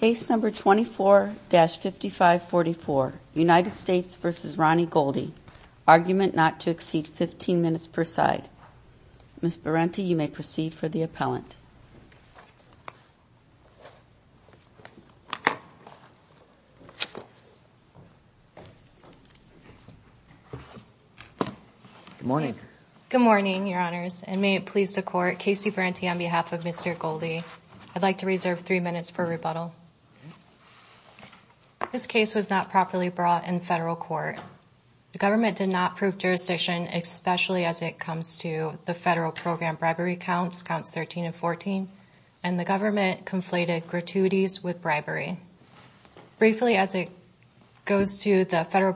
Case number 24-5544, United States v. Ronnie Goldy. Argument not to exceed 15 minutes per side. Ms. Berente, you may proceed for the appellant. Good morning. Good morning, Your Honors, and may it please the Court, Casey Berente on behalf of Mr. Goldy. I'd like to reserve three minutes for rebuttal. This case was not properly brought in federal court. The government did not prove jurisdiction, especially as it comes to the federal program bribery counts, counts 13 and 14, and the government conflated gratuities with bribery. Briefly, as it goes to the federal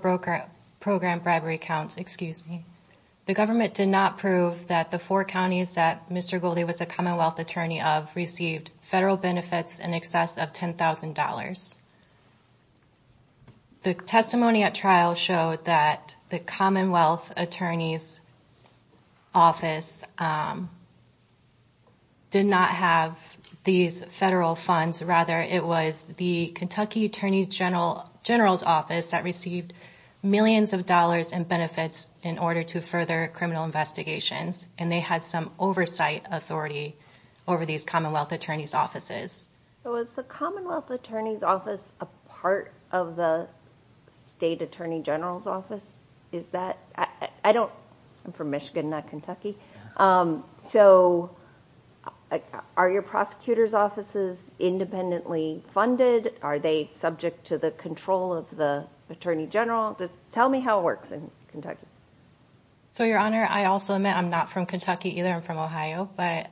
program bribery counts, excuse me, the government did not prove that the four counties that Mr. Goldy was a commonwealth attorney of received federal benefits in excess of $10,000. The testimony at trial showed that the commonwealth attorney's office did not have these federal funds. Rather, it was the Kentucky Attorney General's office that received millions of dollars in benefits in order to further criminal investigations, and they had some oversight authority over these commonwealth attorney's offices. So is the commonwealth attorney's office a part of the state attorney general's office? I'm from Michigan, not Kentucky. So are your prosecutors' offices independently funded? Are they subject to the control of the attorney general? Just tell me how it works in Kentucky. So, Your Honor, I also admit I'm not from Kentucky either. I'm from Ohio, but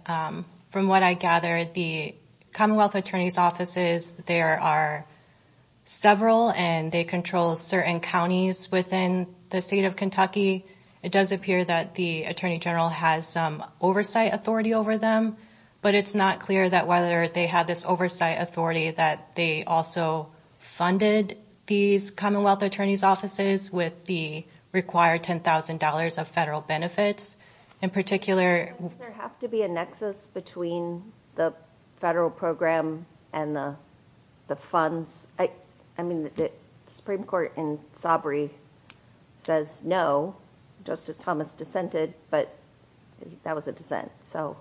from what I gather, the commonwealth attorney's offices, there are several, and they control certain counties within the state of Kentucky. It does appear that the attorney general has oversight authority over them, but it's not clear that whether they have this oversight authority that they also funded these commonwealth attorney's offices with the required $10,000 of federal benefits. In particular, Doesn't there have to be a nexus between the federal program and the funds? I mean, the Supreme Court in Sobre says no, Justice Thomas dissented, but that was a dissent. The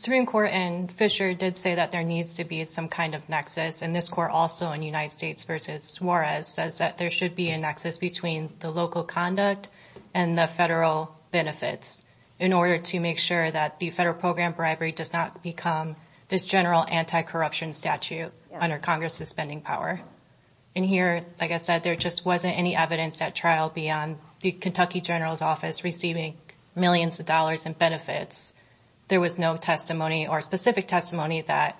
Supreme Court in Fisher did say that there needs to be some kind of nexus, and this court also in United States v. Juarez says that there should be a nexus between the local conduct and the federal benefits in order to make sure that the federal program bribery does not become this general anti-corruption statute under Congress's spending power. And here, like I said, there just wasn't any evidence at trial beyond the Kentucky General's Office receiving millions of dollars in benefits. There was no testimony or specific testimony that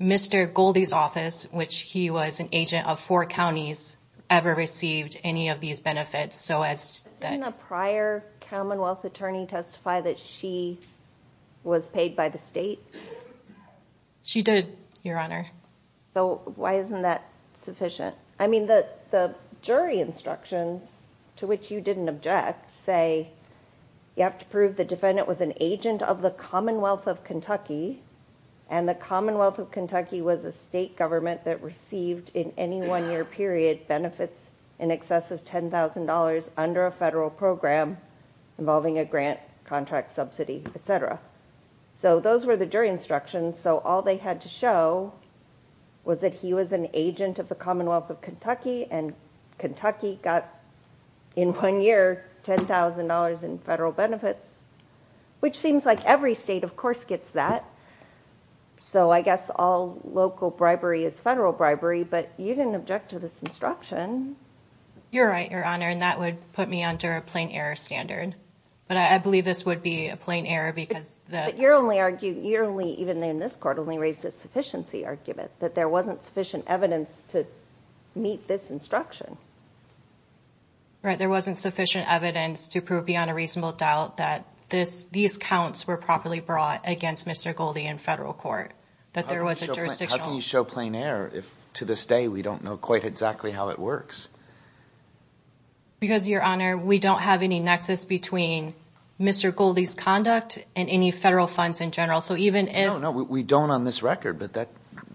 Mr. Goldie's office, which he was an agent of four counties, ever received any of these benefits. Didn't a prior commonwealth attorney testify that she was paid by the state? She did, Your Honor. So why isn't that sufficient? I mean, the jury instructions, to which you didn't object, say you have to prove the defendant was an agent of the Commonwealth of Kentucky, and the Commonwealth of Kentucky was a state government that received in any one-year period benefits in excess of $10,000 under a federal program involving a grant, contract, subsidy, etc. So those were the jury instructions. So all they had to show was that he was an agent of the Commonwealth of Kentucky, and Kentucky got in one year $10,000 in federal benefits, which seems like every state, of course, gets that. So I guess all local bribery is federal bribery, but you didn't object to this instruction. You're right, Your Honor, and that would put me under a plain error standard. But I believe this would be a plain error because the... But you only argued, even in this court, only raised a sufficiency argument, that there wasn't sufficient evidence to meet this instruction. Right, there wasn't sufficient evidence to prove beyond a reasonable doubt that these counts were properly brought against Mr. Goldie in federal court, that there was a jurisdictional... How can you show plain error if, to this day, we don't know quite exactly how it works? Because, Your Honor, we don't have any nexus between Mr. Goldie's conduct and any federal funds in general. So even if... No, no, we don't on this record, but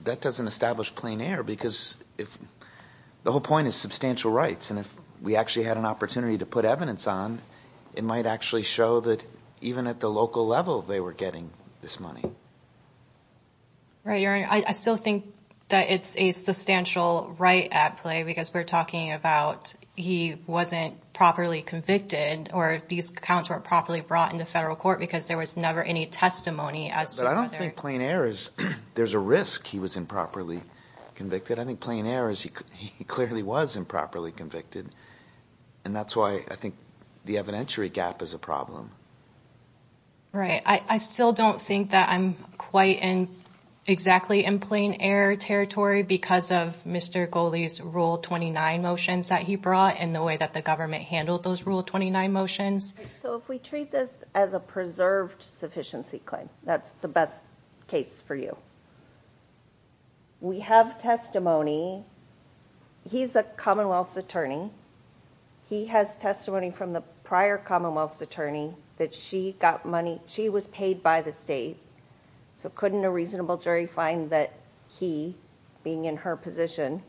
that doesn't establish plain error because if... The whole point is substantial rights, and if we actually had an opportunity to put evidence on, it might actually show that, even at the local level, they were getting this money. Right, Your Honor, I still think that it's a substantial right at play, because we're talking about he wasn't properly convicted, or these counts weren't properly brought into federal court, because there was never any testimony as to whether... But I don't think plain error is... There's a risk he was improperly convicted. I think plain error is he clearly was improperly convicted, and that's why I think the evidentiary gap is a problem. Right. I still don't think that I'm quite in exactly in plain error territory because of Mr. Goldie's Rule 29 motions that he brought and the way that the government handled those Rule 29 motions. So if we treat this as a preserved sufficiency claim, that's the best case for you. We have testimony. He's a Commonwealth's attorney. He has testimony from the prior Commonwealth's attorney that she got money... She was paid by the state. So couldn't a reasonable jury find that he, being in her position,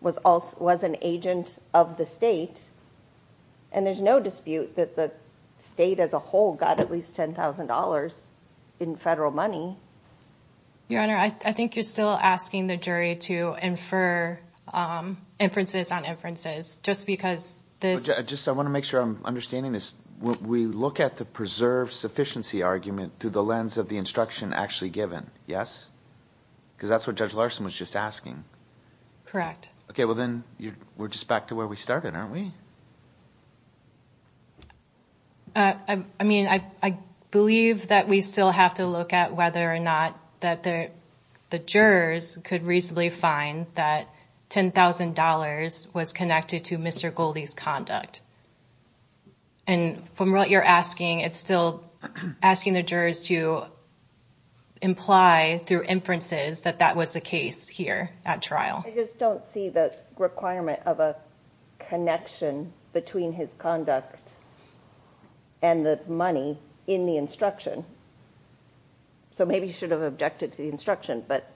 was an agent of the state? And there's no dispute that the state as a whole got at least $10,000 in federal money. Your Honor, I think you're still asking the jury to infer inferences on inferences, just because this... I want to make sure I'm understanding this. We look at the preserved sufficiency argument through the lens of the instruction actually given, yes? Because that's what Judge Larson was just asking. Correct. Okay, well, then we're just back to where we started, aren't we? I mean, I believe that we still have to look at whether or not that the jurors could reasonably find that $10,000 was connected to Mr. Goldie's conduct. And from what you're asking, it's still asking the jurors to imply through inferences that that was the case here at trial. I just don't see the requirement of a connection between his conduct and the money in the instruction. So maybe you should have objected to the instruction, but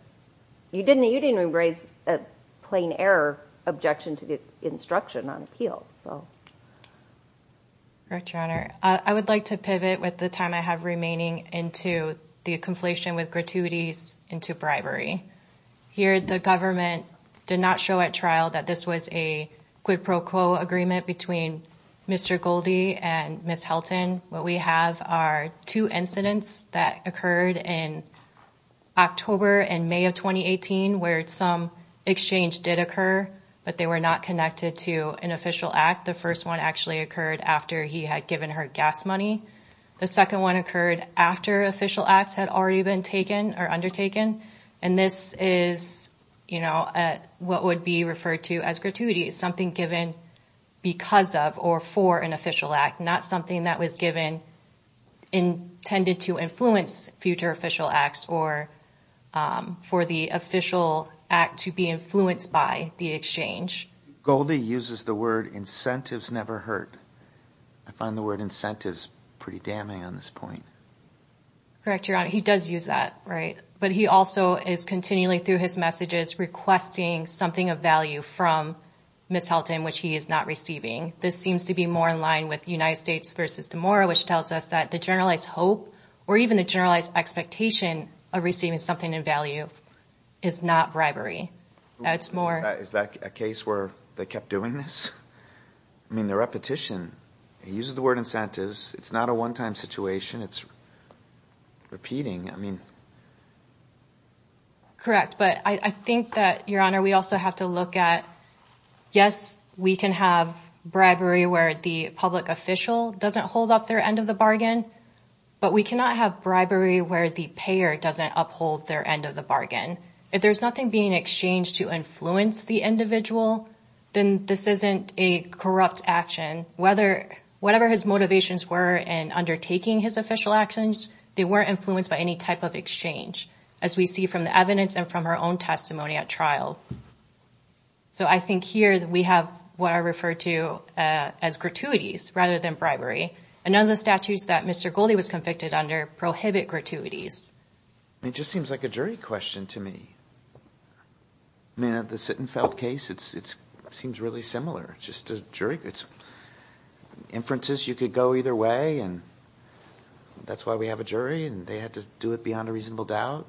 you didn't embrace a plain error objection to the instruction on appeal. Correct, Your Honor. I would like to pivot with the time I have remaining into the conflation with gratuities into bribery. Here, the government did not show at trial that this was a quid pro quo agreement between Mr. Goldie and Ms. Helton. What we have are two incidents that occurred in October and May of 2018 where some exchange did occur, but they were not connected to an official act. The first one actually occurred after he had given her gas money. The second one occurred after official acts had already been taken or undertaken. And this is what would be referred to as gratuity. It's something given because of or for an official act, not something that was given intended to influence future official acts or for the official act to be influenced by the exchange. Goldie uses the word, incentives never hurt. I find the word incentives pretty damning on this point. Correct, Your Honor. He does use that, right? But he also is continually through his messages requesting something of value from Ms. Helton, which he is not receiving. This seems to be more in line with United States v. DeMora, which tells us that the generalized hope or even the generalized expectation of receiving something of value is not bribery. Is that a case where they kept doing this? I mean, the repetition. He uses the word incentives. It's not a one-time situation. It's repeating. Correct. But I think that, Your Honor, we also have to look at, yes, we can have bribery where the public official doesn't hold up their end of the bargain, but we cannot have bribery where the payer doesn't uphold their end of the If there's nothing being exchanged to influence the individual, then this isn't a corrupt action. Whatever his motivations were in undertaking his official actions, they weren't influenced by any type of exchange, as we see from the evidence and from her own testimony at trial. So I think here we have what are referred to as gratuities rather than and none of the statutes that Mr. Goldie was convicted under prohibit gratuities. It just seems like a jury question to me. I mean, at the Sittenfeld case, it seems really similar. Just a jury. It's inferences. You could go either way, and that's why we have a jury, and they had to do it beyond a reasonable doubt.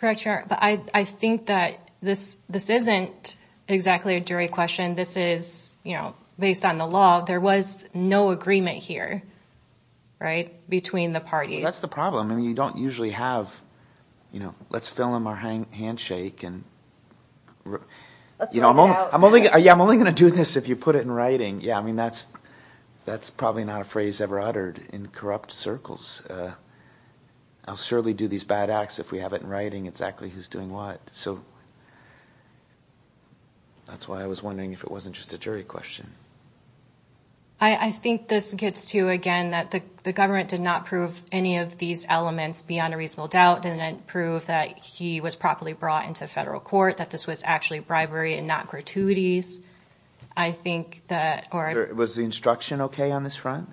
Correct, Your Honor. But I think that this isn't exactly a jury question. This is, you know, based on the law. There was no agreement here, right, between the parties. That's the problem. I mean, you don't usually have, you know, let's fill in our handshake. Yeah, I'm only going to do this if you put it in writing. Yeah, I mean, that's probably not a phrase ever uttered in corrupt circles. I'll surely do these bad acts if we have it in writing exactly who's doing what. So that's why I was wondering if it wasn't just a jury question. I think this gets to, again, that the government did not prove any of these elements beyond a reasonable doubt, didn't prove that he was properly brought into federal court, that this was actually bribery and not gratuities. I think that... Was the instruction okay on this front?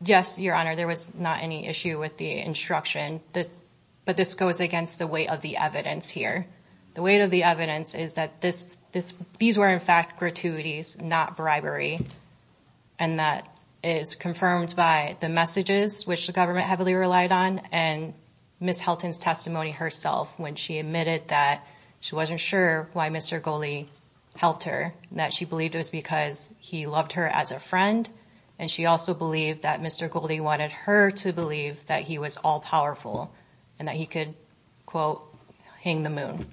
Yes, Your Honor. There was not any issue with the instruction, but this goes against the weight of the evidence here. The weight of the evidence is that these were, in fact, gratuities, not bribery, and that is confirmed by the messages, which the government heavily relied on, and Ms. Helton's testimony herself, when she admitted that she wasn't sure why Mr. Goley helped her, that she believed it was because he loved her as a friend, and she also believed that Mr. Goley wanted her to believe that he was all-powerful and that he could, quote, hang the moon.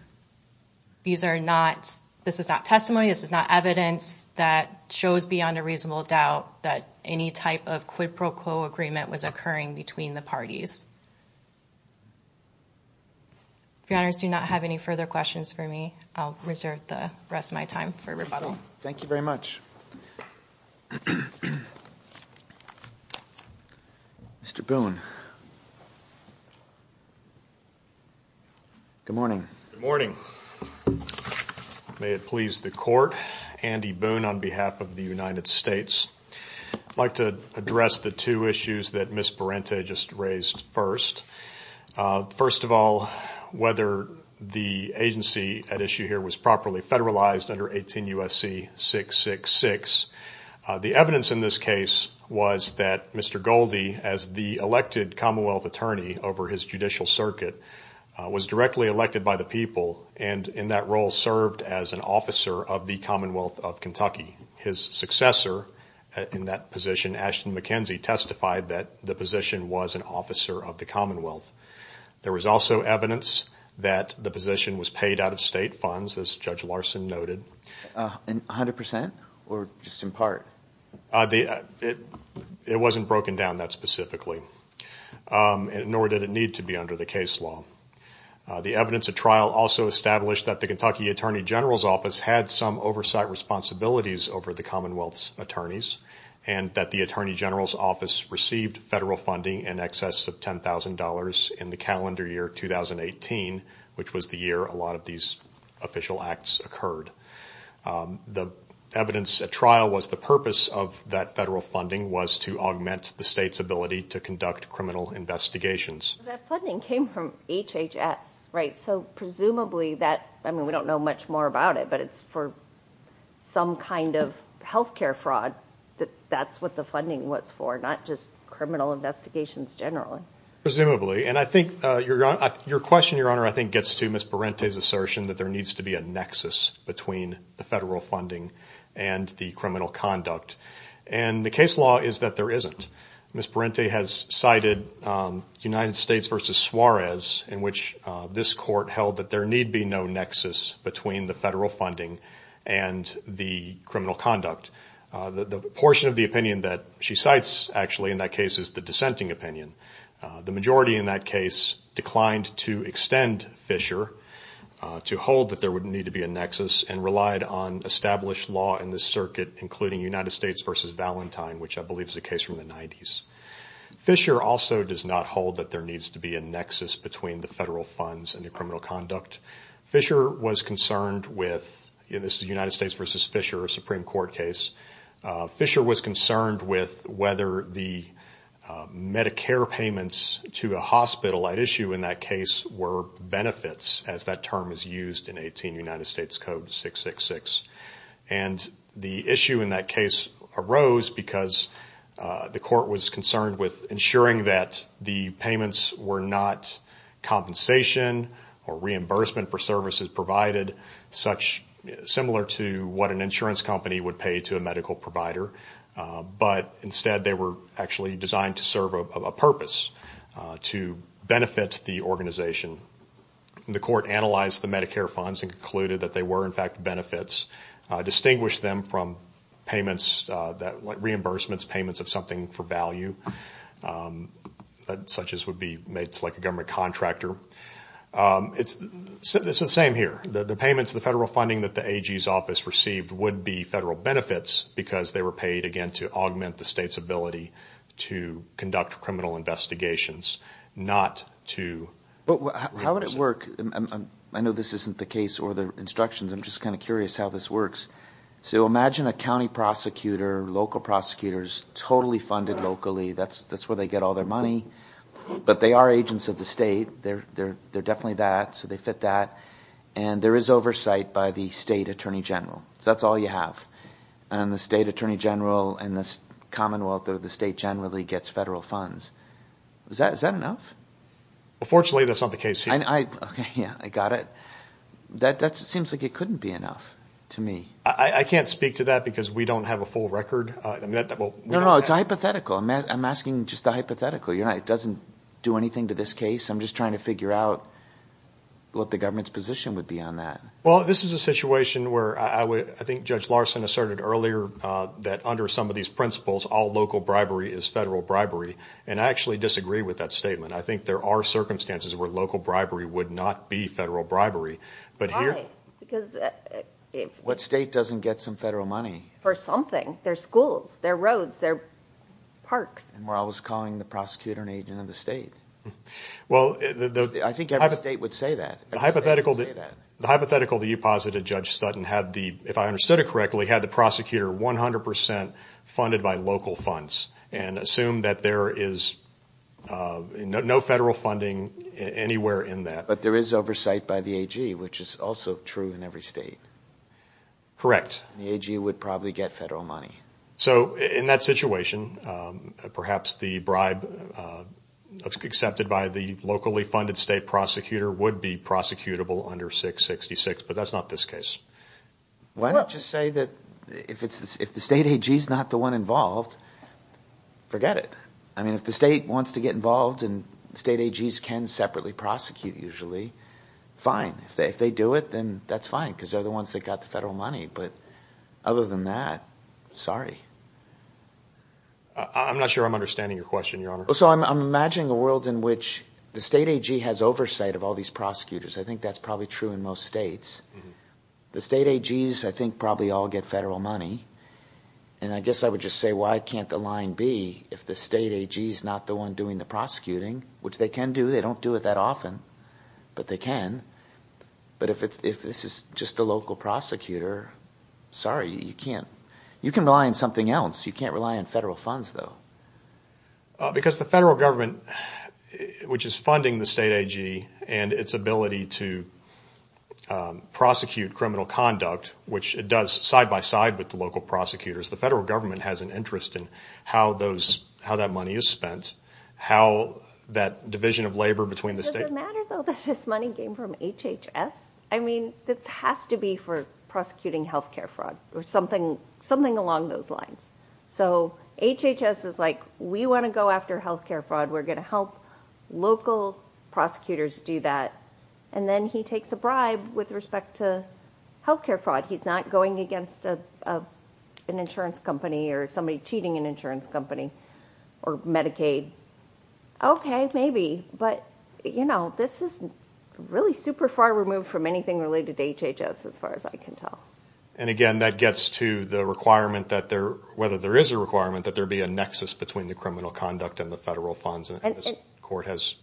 These are not... This is not testimony, this is not evidence that shows beyond a reasonable doubt that any type of quid pro quo agreement was occurring between the parties. If Your Honors do not have any further questions for me, I'll reserve the rest of my time for rebuttal. Thank you very much. Mr. Boone. Good morning. Good morning. May it please the Court, Andy Boone on behalf of the United States. I'd like to address the two issues that Ms. Parente just raised first. First of all, whether the agency at issue here was properly federalized under 18 U.S.C. 666. The evidence in this case was that Mr. Goley, as the elected Commonwealth attorney over his judicial circuit, was directly elected by the people, and in that role served as an officer of the Commonwealth of Kentucky. His successor in that position, Ashton McKenzie, testified that the position was an officer of the Commonwealth. There was also evidence that the position was paid out of state funds, as Judge Larson noted. A hundred percent or just in part? It wasn't broken down that specifically, nor did it need to be under the case law. The evidence at trial also established that the Kentucky Attorney General's Office had some oversight responsibilities over the Commonwealth's attorneys, and that the Attorney General's Office received federal funding in excess of $10,000 in the calendar year 2018, which was the year a lot of these official acts occurred. The evidence at trial was the purpose of that federal funding was to augment the state's ability to conduct criminal investigations. That funding came from HHS, right? So presumably that, I mean, we don't know much more about it, but it's for some kind of health care fraud that that's what the funding was for, not just criminal investigations generally. Presumably, and I think your question, Your Honor, I think gets to Ms. Parente's assertion that there needs to be a nexus between the federal funding and the criminal conduct, and the case law is that there isn't. Ms. Parente has cited United States v. Suarez, in which this court held that there need be no nexus between the federal funding and the criminal conduct. The portion of the opinion that she cites actually in that case is the dissenting opinion. The majority in that case declined to extend Fisher to hold that there would need to be a nexus and relied on established law in this circuit, including United States v. Valentine, which I believe is a case from the 90s. Fisher also does not hold that there needs to be a nexus between the federal funds and the criminal conduct. Fisher was concerned with, and this is United States v. Fisher, a Supreme Court case. Fisher was concerned with whether the Medicare payments to a hospital at issue in that case were benefits, as that term is used in 18 United States Code 666. And the issue in that case arose because the court was concerned with ensuring that the payments were not compensation or reimbursement for services provided, similar to what an insurance company would pay to a medical provider, but instead they were actually designed to serve a purpose, to benefit the organization. The court analyzed the Medicare funds and concluded that they were in fact benefits, distinguished them from payments like reimbursements, payments of something for value, such as would be made to like a government contractor. It's the same here. The payments, the federal funding that the AG's office received would be federal benefits because they were paid, again, to augment the state's ability to conduct criminal investigations, not to How would it work? I know this isn't the case or the instructions. I'm just kind of curious how this works. So imagine a county prosecutor, local prosecutors, totally funded locally. That's where they get all their money. But they are agents of the state. They're definitely that, so they fit that. And there is oversight by the state attorney general. So that's all you have. And the state attorney general and the commonwealth or the state generally gets federal funds. Is that enough? Fortunately, that's not the case here. Okay, yeah, I got it. That seems like it couldn't be enough to me. I can't speak to that because we don't have a full record. No, no, it's hypothetical. I'm asking just the hypothetical. It doesn't do anything to this case. I'm just trying to figure out what the government's position would be on that. Well, this is a situation where I think Judge Larson asserted earlier that under some of these principles, all local bribery is federal bribery. And I actually disagree with that statement. I think there are circumstances where local bribery would not be federal bribery. Why? Because what state doesn't get some federal money? For something. Their schools, their roads, their parks. And we're always calling the prosecutor an agent of the state. Well, I think every state would say that. The hypothetical that you posited, Judge Stutton, had the, if I understood it correctly, had the prosecutor 100% funded by local funds and assumed that there is no federal funding anywhere in that. But there is oversight by the AG, which is also true in every state. Correct. The AG would probably get federal money. So in that situation, perhaps the bribe accepted by the locally funded state prosecutor would be prosecutable under 666, but that's not this case. Why don't you say that if the state AG is not the one involved, forget it. I mean, if the state wants to get involved and state AGs can separately prosecute usually, fine. If they do it, then that's fine because they're the ones that got the federal money. But other than that, sorry. I'm not sure I'm understanding your question, Your Honor. So I'm imagining a world in which the state AG has oversight of all these prosecutors. I think that's probably true in most states. The state AGs, I think, probably all get federal money. And I guess I would just say why can't the line be if the state AG is not the one doing the prosecuting, which they can do. They don't do it that often, but they can. But if this is just a local prosecutor, sorry, you can't. You can rely on something else. You can't rely on federal funds, though. Because the federal government, which is funding the state AG and its ability to prosecute criminal conduct, which it does side by side with the local prosecutors, the federal government has an interest in how that money is spent, how that division of labor between the state. Does it matter, though, that this money came from HHS? I mean, this has to be for prosecuting health care fraud or something along those lines. So HHS is like, we want to go after health care fraud. We're going to help local prosecutors do that. And then he takes a bribe with respect to health care fraud. He's not going against an insurance company or somebody cheating an insurance company or Medicaid. Okay, maybe. But, you know, this is really super far removed from anything related to HHS as far as I can tell. And, again, that gets to the requirement that there, whether there is a requirement, that there be a nexus between the criminal conduct and the federal funds, as the court has.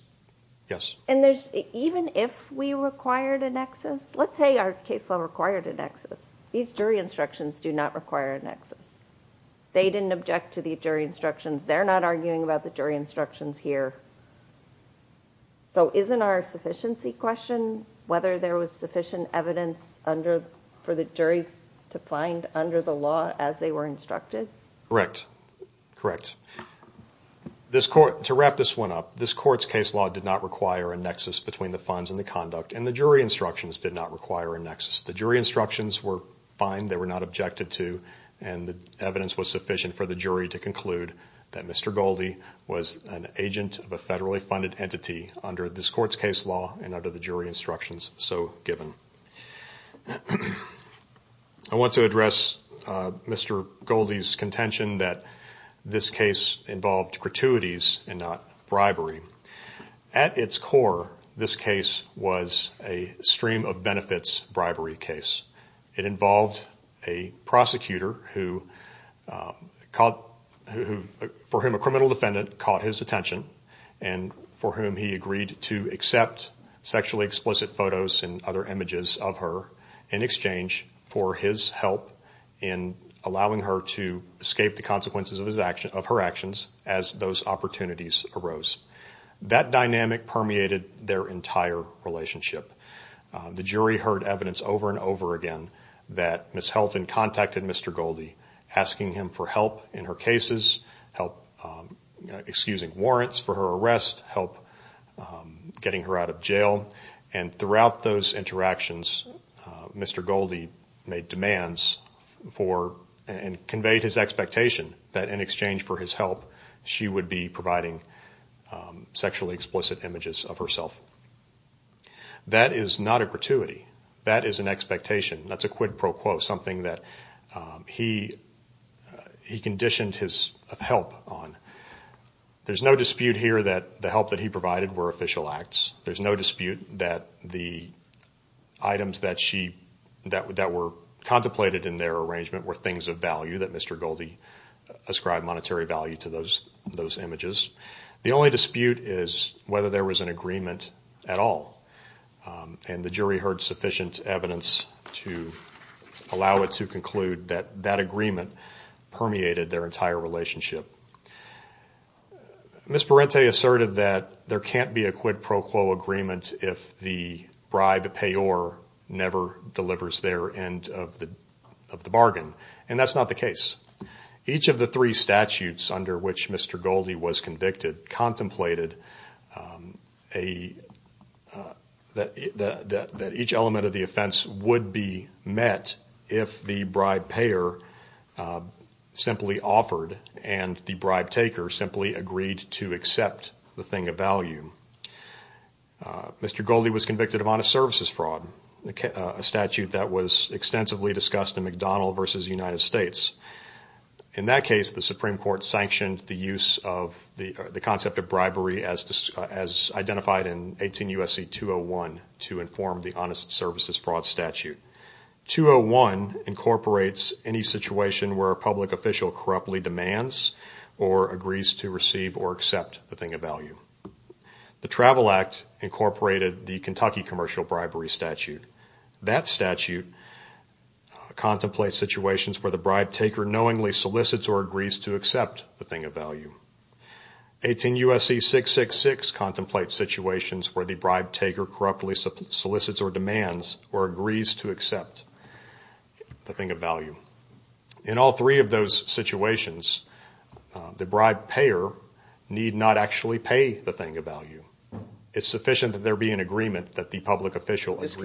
And even if we required a nexus, let's say our case law required a nexus. These jury instructions do not require a nexus. They didn't object to the jury instructions. They're not arguing about the jury instructions here. So isn't our sufficiency question whether there was sufficient evidence for the juries to find under the law as they were instructed? Correct. Correct. To wrap this one up, this court's case law did not require a nexus between the funds and the conduct, and the jury instructions did not require a nexus. The jury instructions were fine. They were not objected to, and the evidence was sufficient for the jury to conclude that Mr. Goldie was an agent of a federally funded entity under this court's case law and under the jury instructions so given. I want to address Mr. Goldie's contention that this case involved gratuities and not bribery. At its core, this case was a stream of benefits bribery case. It involved a prosecutor for whom a criminal defendant caught his attention and for whom he agreed to accept sexually explicit photos and other images of her in exchange for his help in allowing her to escape the consequences of her actions as those opportunities arose. That dynamic permeated their entire relationship. The jury heard evidence over and over again that Ms. Helton contacted Mr. Goldie asking him for help in her cases, help excusing warrants for her arrest, help getting her out of jail, and throughout those interactions, Mr. Goldie made demands for and conveyed his expectation that in exchange for his help, she would be providing sexually explicit images of herself. That is not a gratuity. That is an expectation. That's a quid pro quo, something that he conditioned his help on. There's no dispute here that the help that he provided were official acts. There's no dispute that the items that were contemplated in their arrangement were things of value that Mr. Goldie ascribed monetary value to those images. The only dispute is whether there was an agreement at all, and the jury heard sufficient evidence to allow it to conclude that that agreement permeated their entire relationship. Ms. Parente asserted that there can't be a quid pro quo agreement if the bribe payor never delivers their end of the bargain, and that's not the case. Each of the three statutes under which Mr. Goldie was convicted contemplated that each element of the offense would be met if the bribe payor simply offered and the bribe taker simply agreed to accept the thing of value. Mr. Goldie was convicted of honest services fraud, a statute that was extensively discussed in McDonald v. United States. In that case, the Supreme Court sanctioned the concept of bribery as identified in 18 U.S.C. 201 to inform the honest services fraud statute. 201 incorporates any situation where a public official corruptly demands or agrees to receive or accept the thing of value. The Travel Act incorporated the Kentucky commercial bribery statute. That statute contemplates situations where the bribe taker knowingly solicits or agrees to accept the thing of value. 18 U.S.C. 666 contemplates situations where the bribe taker corruptly solicits or demands or agrees to accept the thing of value. In all three of those situations, the bribe payor need not actually pay the thing of value. It's sufficient that there be an agreement that the public official agrees.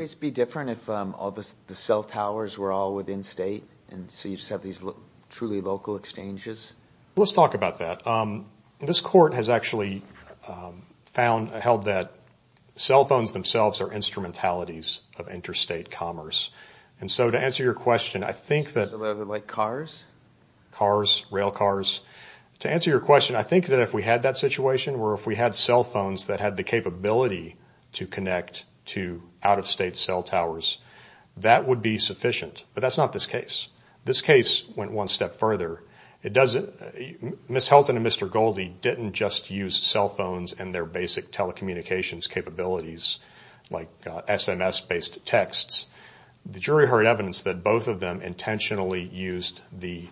Let's talk about that. This Court has actually held that cell phones themselves are instrumentalities of interstate commerce. And so to answer your question, I think that... if we had that situation, or if we had cell phones that had the capability to connect to out-of-state cell towers, that would be sufficient. But that's not this case. This case went one step further. Ms. Helton and Mr. Goldie didn't just use cell phones and their basic telecommunications capabilities like SMS-based texts. The jury heard evidence that both of them intentionally used the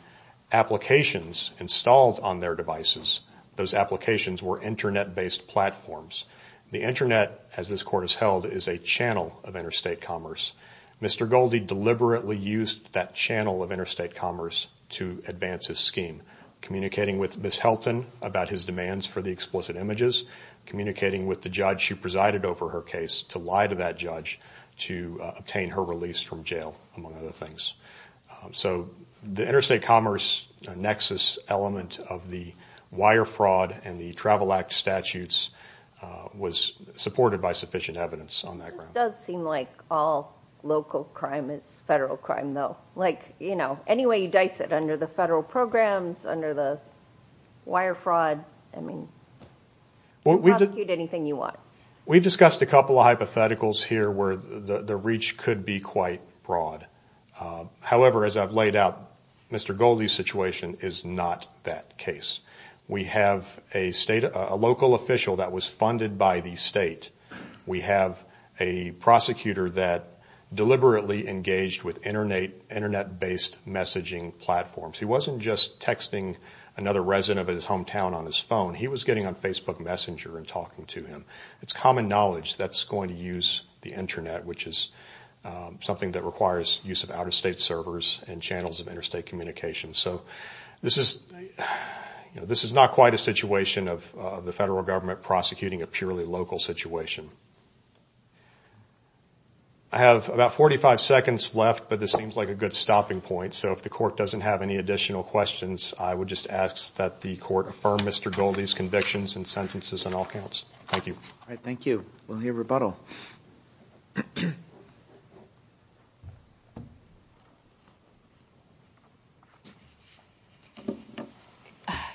applications installed on their devices. Those applications were Internet-based platforms. The Internet, as this Court has held, is a channel of interstate commerce. Mr. Goldie deliberately used that channel of interstate commerce to advance his scheme, communicating with Ms. Helton about his demands for the explicit images, communicating with the judge who presided over her case to lie to that judge to obtain her release from jail, among other things. So the interstate commerce nexus element of the wire fraud and the Travel Act statutes was supported by sufficient evidence on that ground. This does seem like all local crime is federal crime, though. Like, you know, any way you dice it, under the federal programs, under the wire fraud, I mean, you can prosecute anything you want. We discussed a couple of hypotheticals here where the reach could be quite broad. However, as I've laid out, Mr. Goldie's situation is not that case. We have a local official that was funded by the state. We have a prosecutor that deliberately engaged with Internet-based messaging platforms. He wasn't just texting another resident of his hometown on his phone. He was getting on Facebook Messenger and talking to him. It's common knowledge that's going to use the Internet, which is something that requires use of out-of-state servers and channels of interstate communication. So this is not quite a situation of the federal government prosecuting a purely local situation. I have about 45 seconds left, but this seems like a good stopping point. So if the court doesn't have any additional questions, I would just ask that the court affirm Mr. Goldie's convictions and sentences on all counts. Thank you. All right, thank you. We'll hear rebuttal.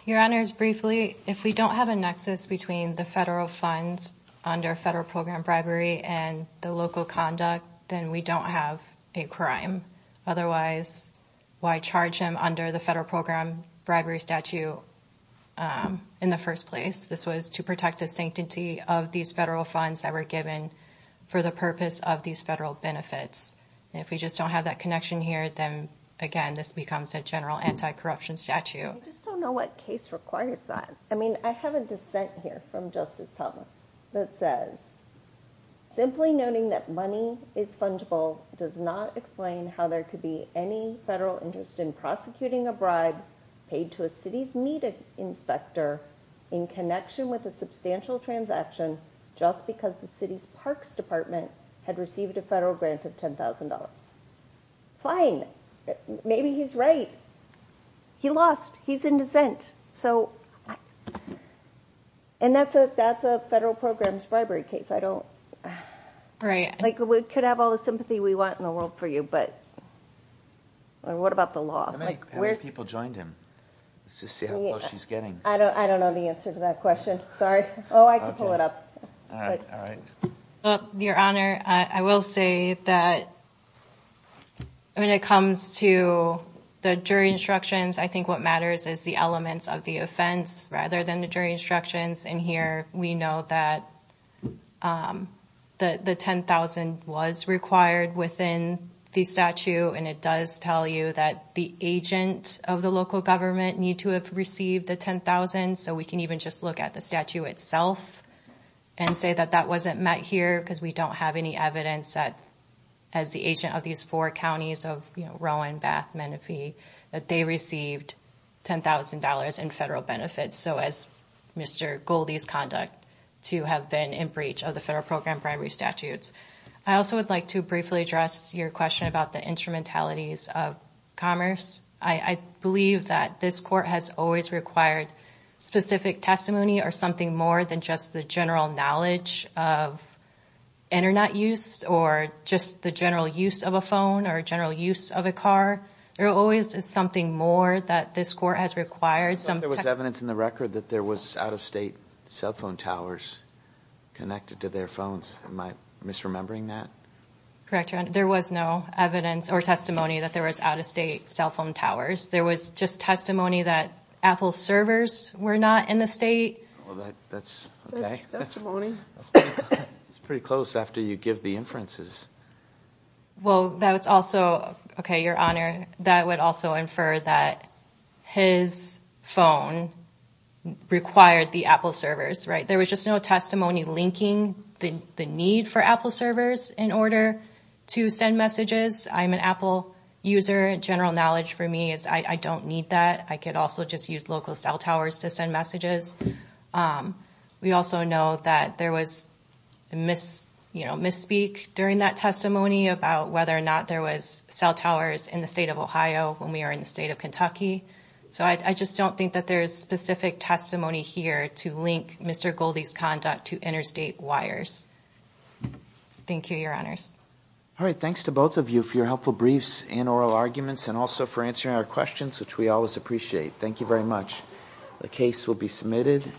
Your Honors, briefly, if we don't have a nexus between the federal funds under federal program bribery and the local conduct, then we don't have a crime. Otherwise, why charge him under the federal program bribery statute in the first place? This was to protect the sanctity of these federal funds that were given for the purpose of these federal benefits. And if we just don't have that connection here, then, again, this becomes a general anti-corruption statute. I just don't know what case requires that. I mean, I have a dissent here from Justice Thomas that says, simply noting that money is fungible does not explain how there could be any federal interest in prosecuting a bribe paid to a city's meat inspector in connection with a substantial transaction just because the city's parks department had received a federal grant of $10,000. Fine. Maybe he's right. He lost. He's in dissent. And that's a federal program bribery case. We could have all the sympathy we want in the world for you, but what about the law? How many people joined him? Let's just see how close she's getting. I don't know the answer to that question. Sorry. Oh, I can pull it up. Your Honor, I will say that when it comes to the jury instructions, I think what matters is the elements of the offense rather than the jury instructions. And here we know that the $10,000 was required within the statute. And it does tell you that the agent of the local government need to have received the $10,000. So we can even just look at the statute itself and say that that wasn't met here because we don't have any evidence that as the agent of these four counties of Rowan, Bath, Menifee, that they received $10,000 in federal benefits. So as Mr. Goldie's conduct to have been in breach of the federal program bribery statutes. I also would like to briefly address your question about the instrumentalities of commerce. I believe that this court has always required specific testimony or something more than just the general knowledge of Internet use or just the general use of a phone or general use of a car. There always is something more that this court has required some evidence in the record that there was out of state cell phone towers connected to their phones. Am I misremembering that? There was no evidence or testimony that there was out of state cell phone towers. There was just testimony that Apple servers were not in the state. That's pretty close after you give the inferences. Well, that's also, okay, your honor, that would also infer that his phone required the Apple servers, right? There was just no testimony linking the need for Apple servers in order to send messages. I'm an Apple user. General knowledge for me is I don't need that. I could also just use local cell towers to send messages. We also know that there was misspeak during that testimony about whether or not there was cell towers in the state of Ohio when we were in the state of Kentucky. So I just don't think that there's specific testimony here to link Mr. Goldie's conduct to interstate wires. Thank you, your honors. All right. Thanks to both of you for your helpful briefs and oral arguments and also for answering our questions, which we always appreciate. Thank you very much. The case will be submitted.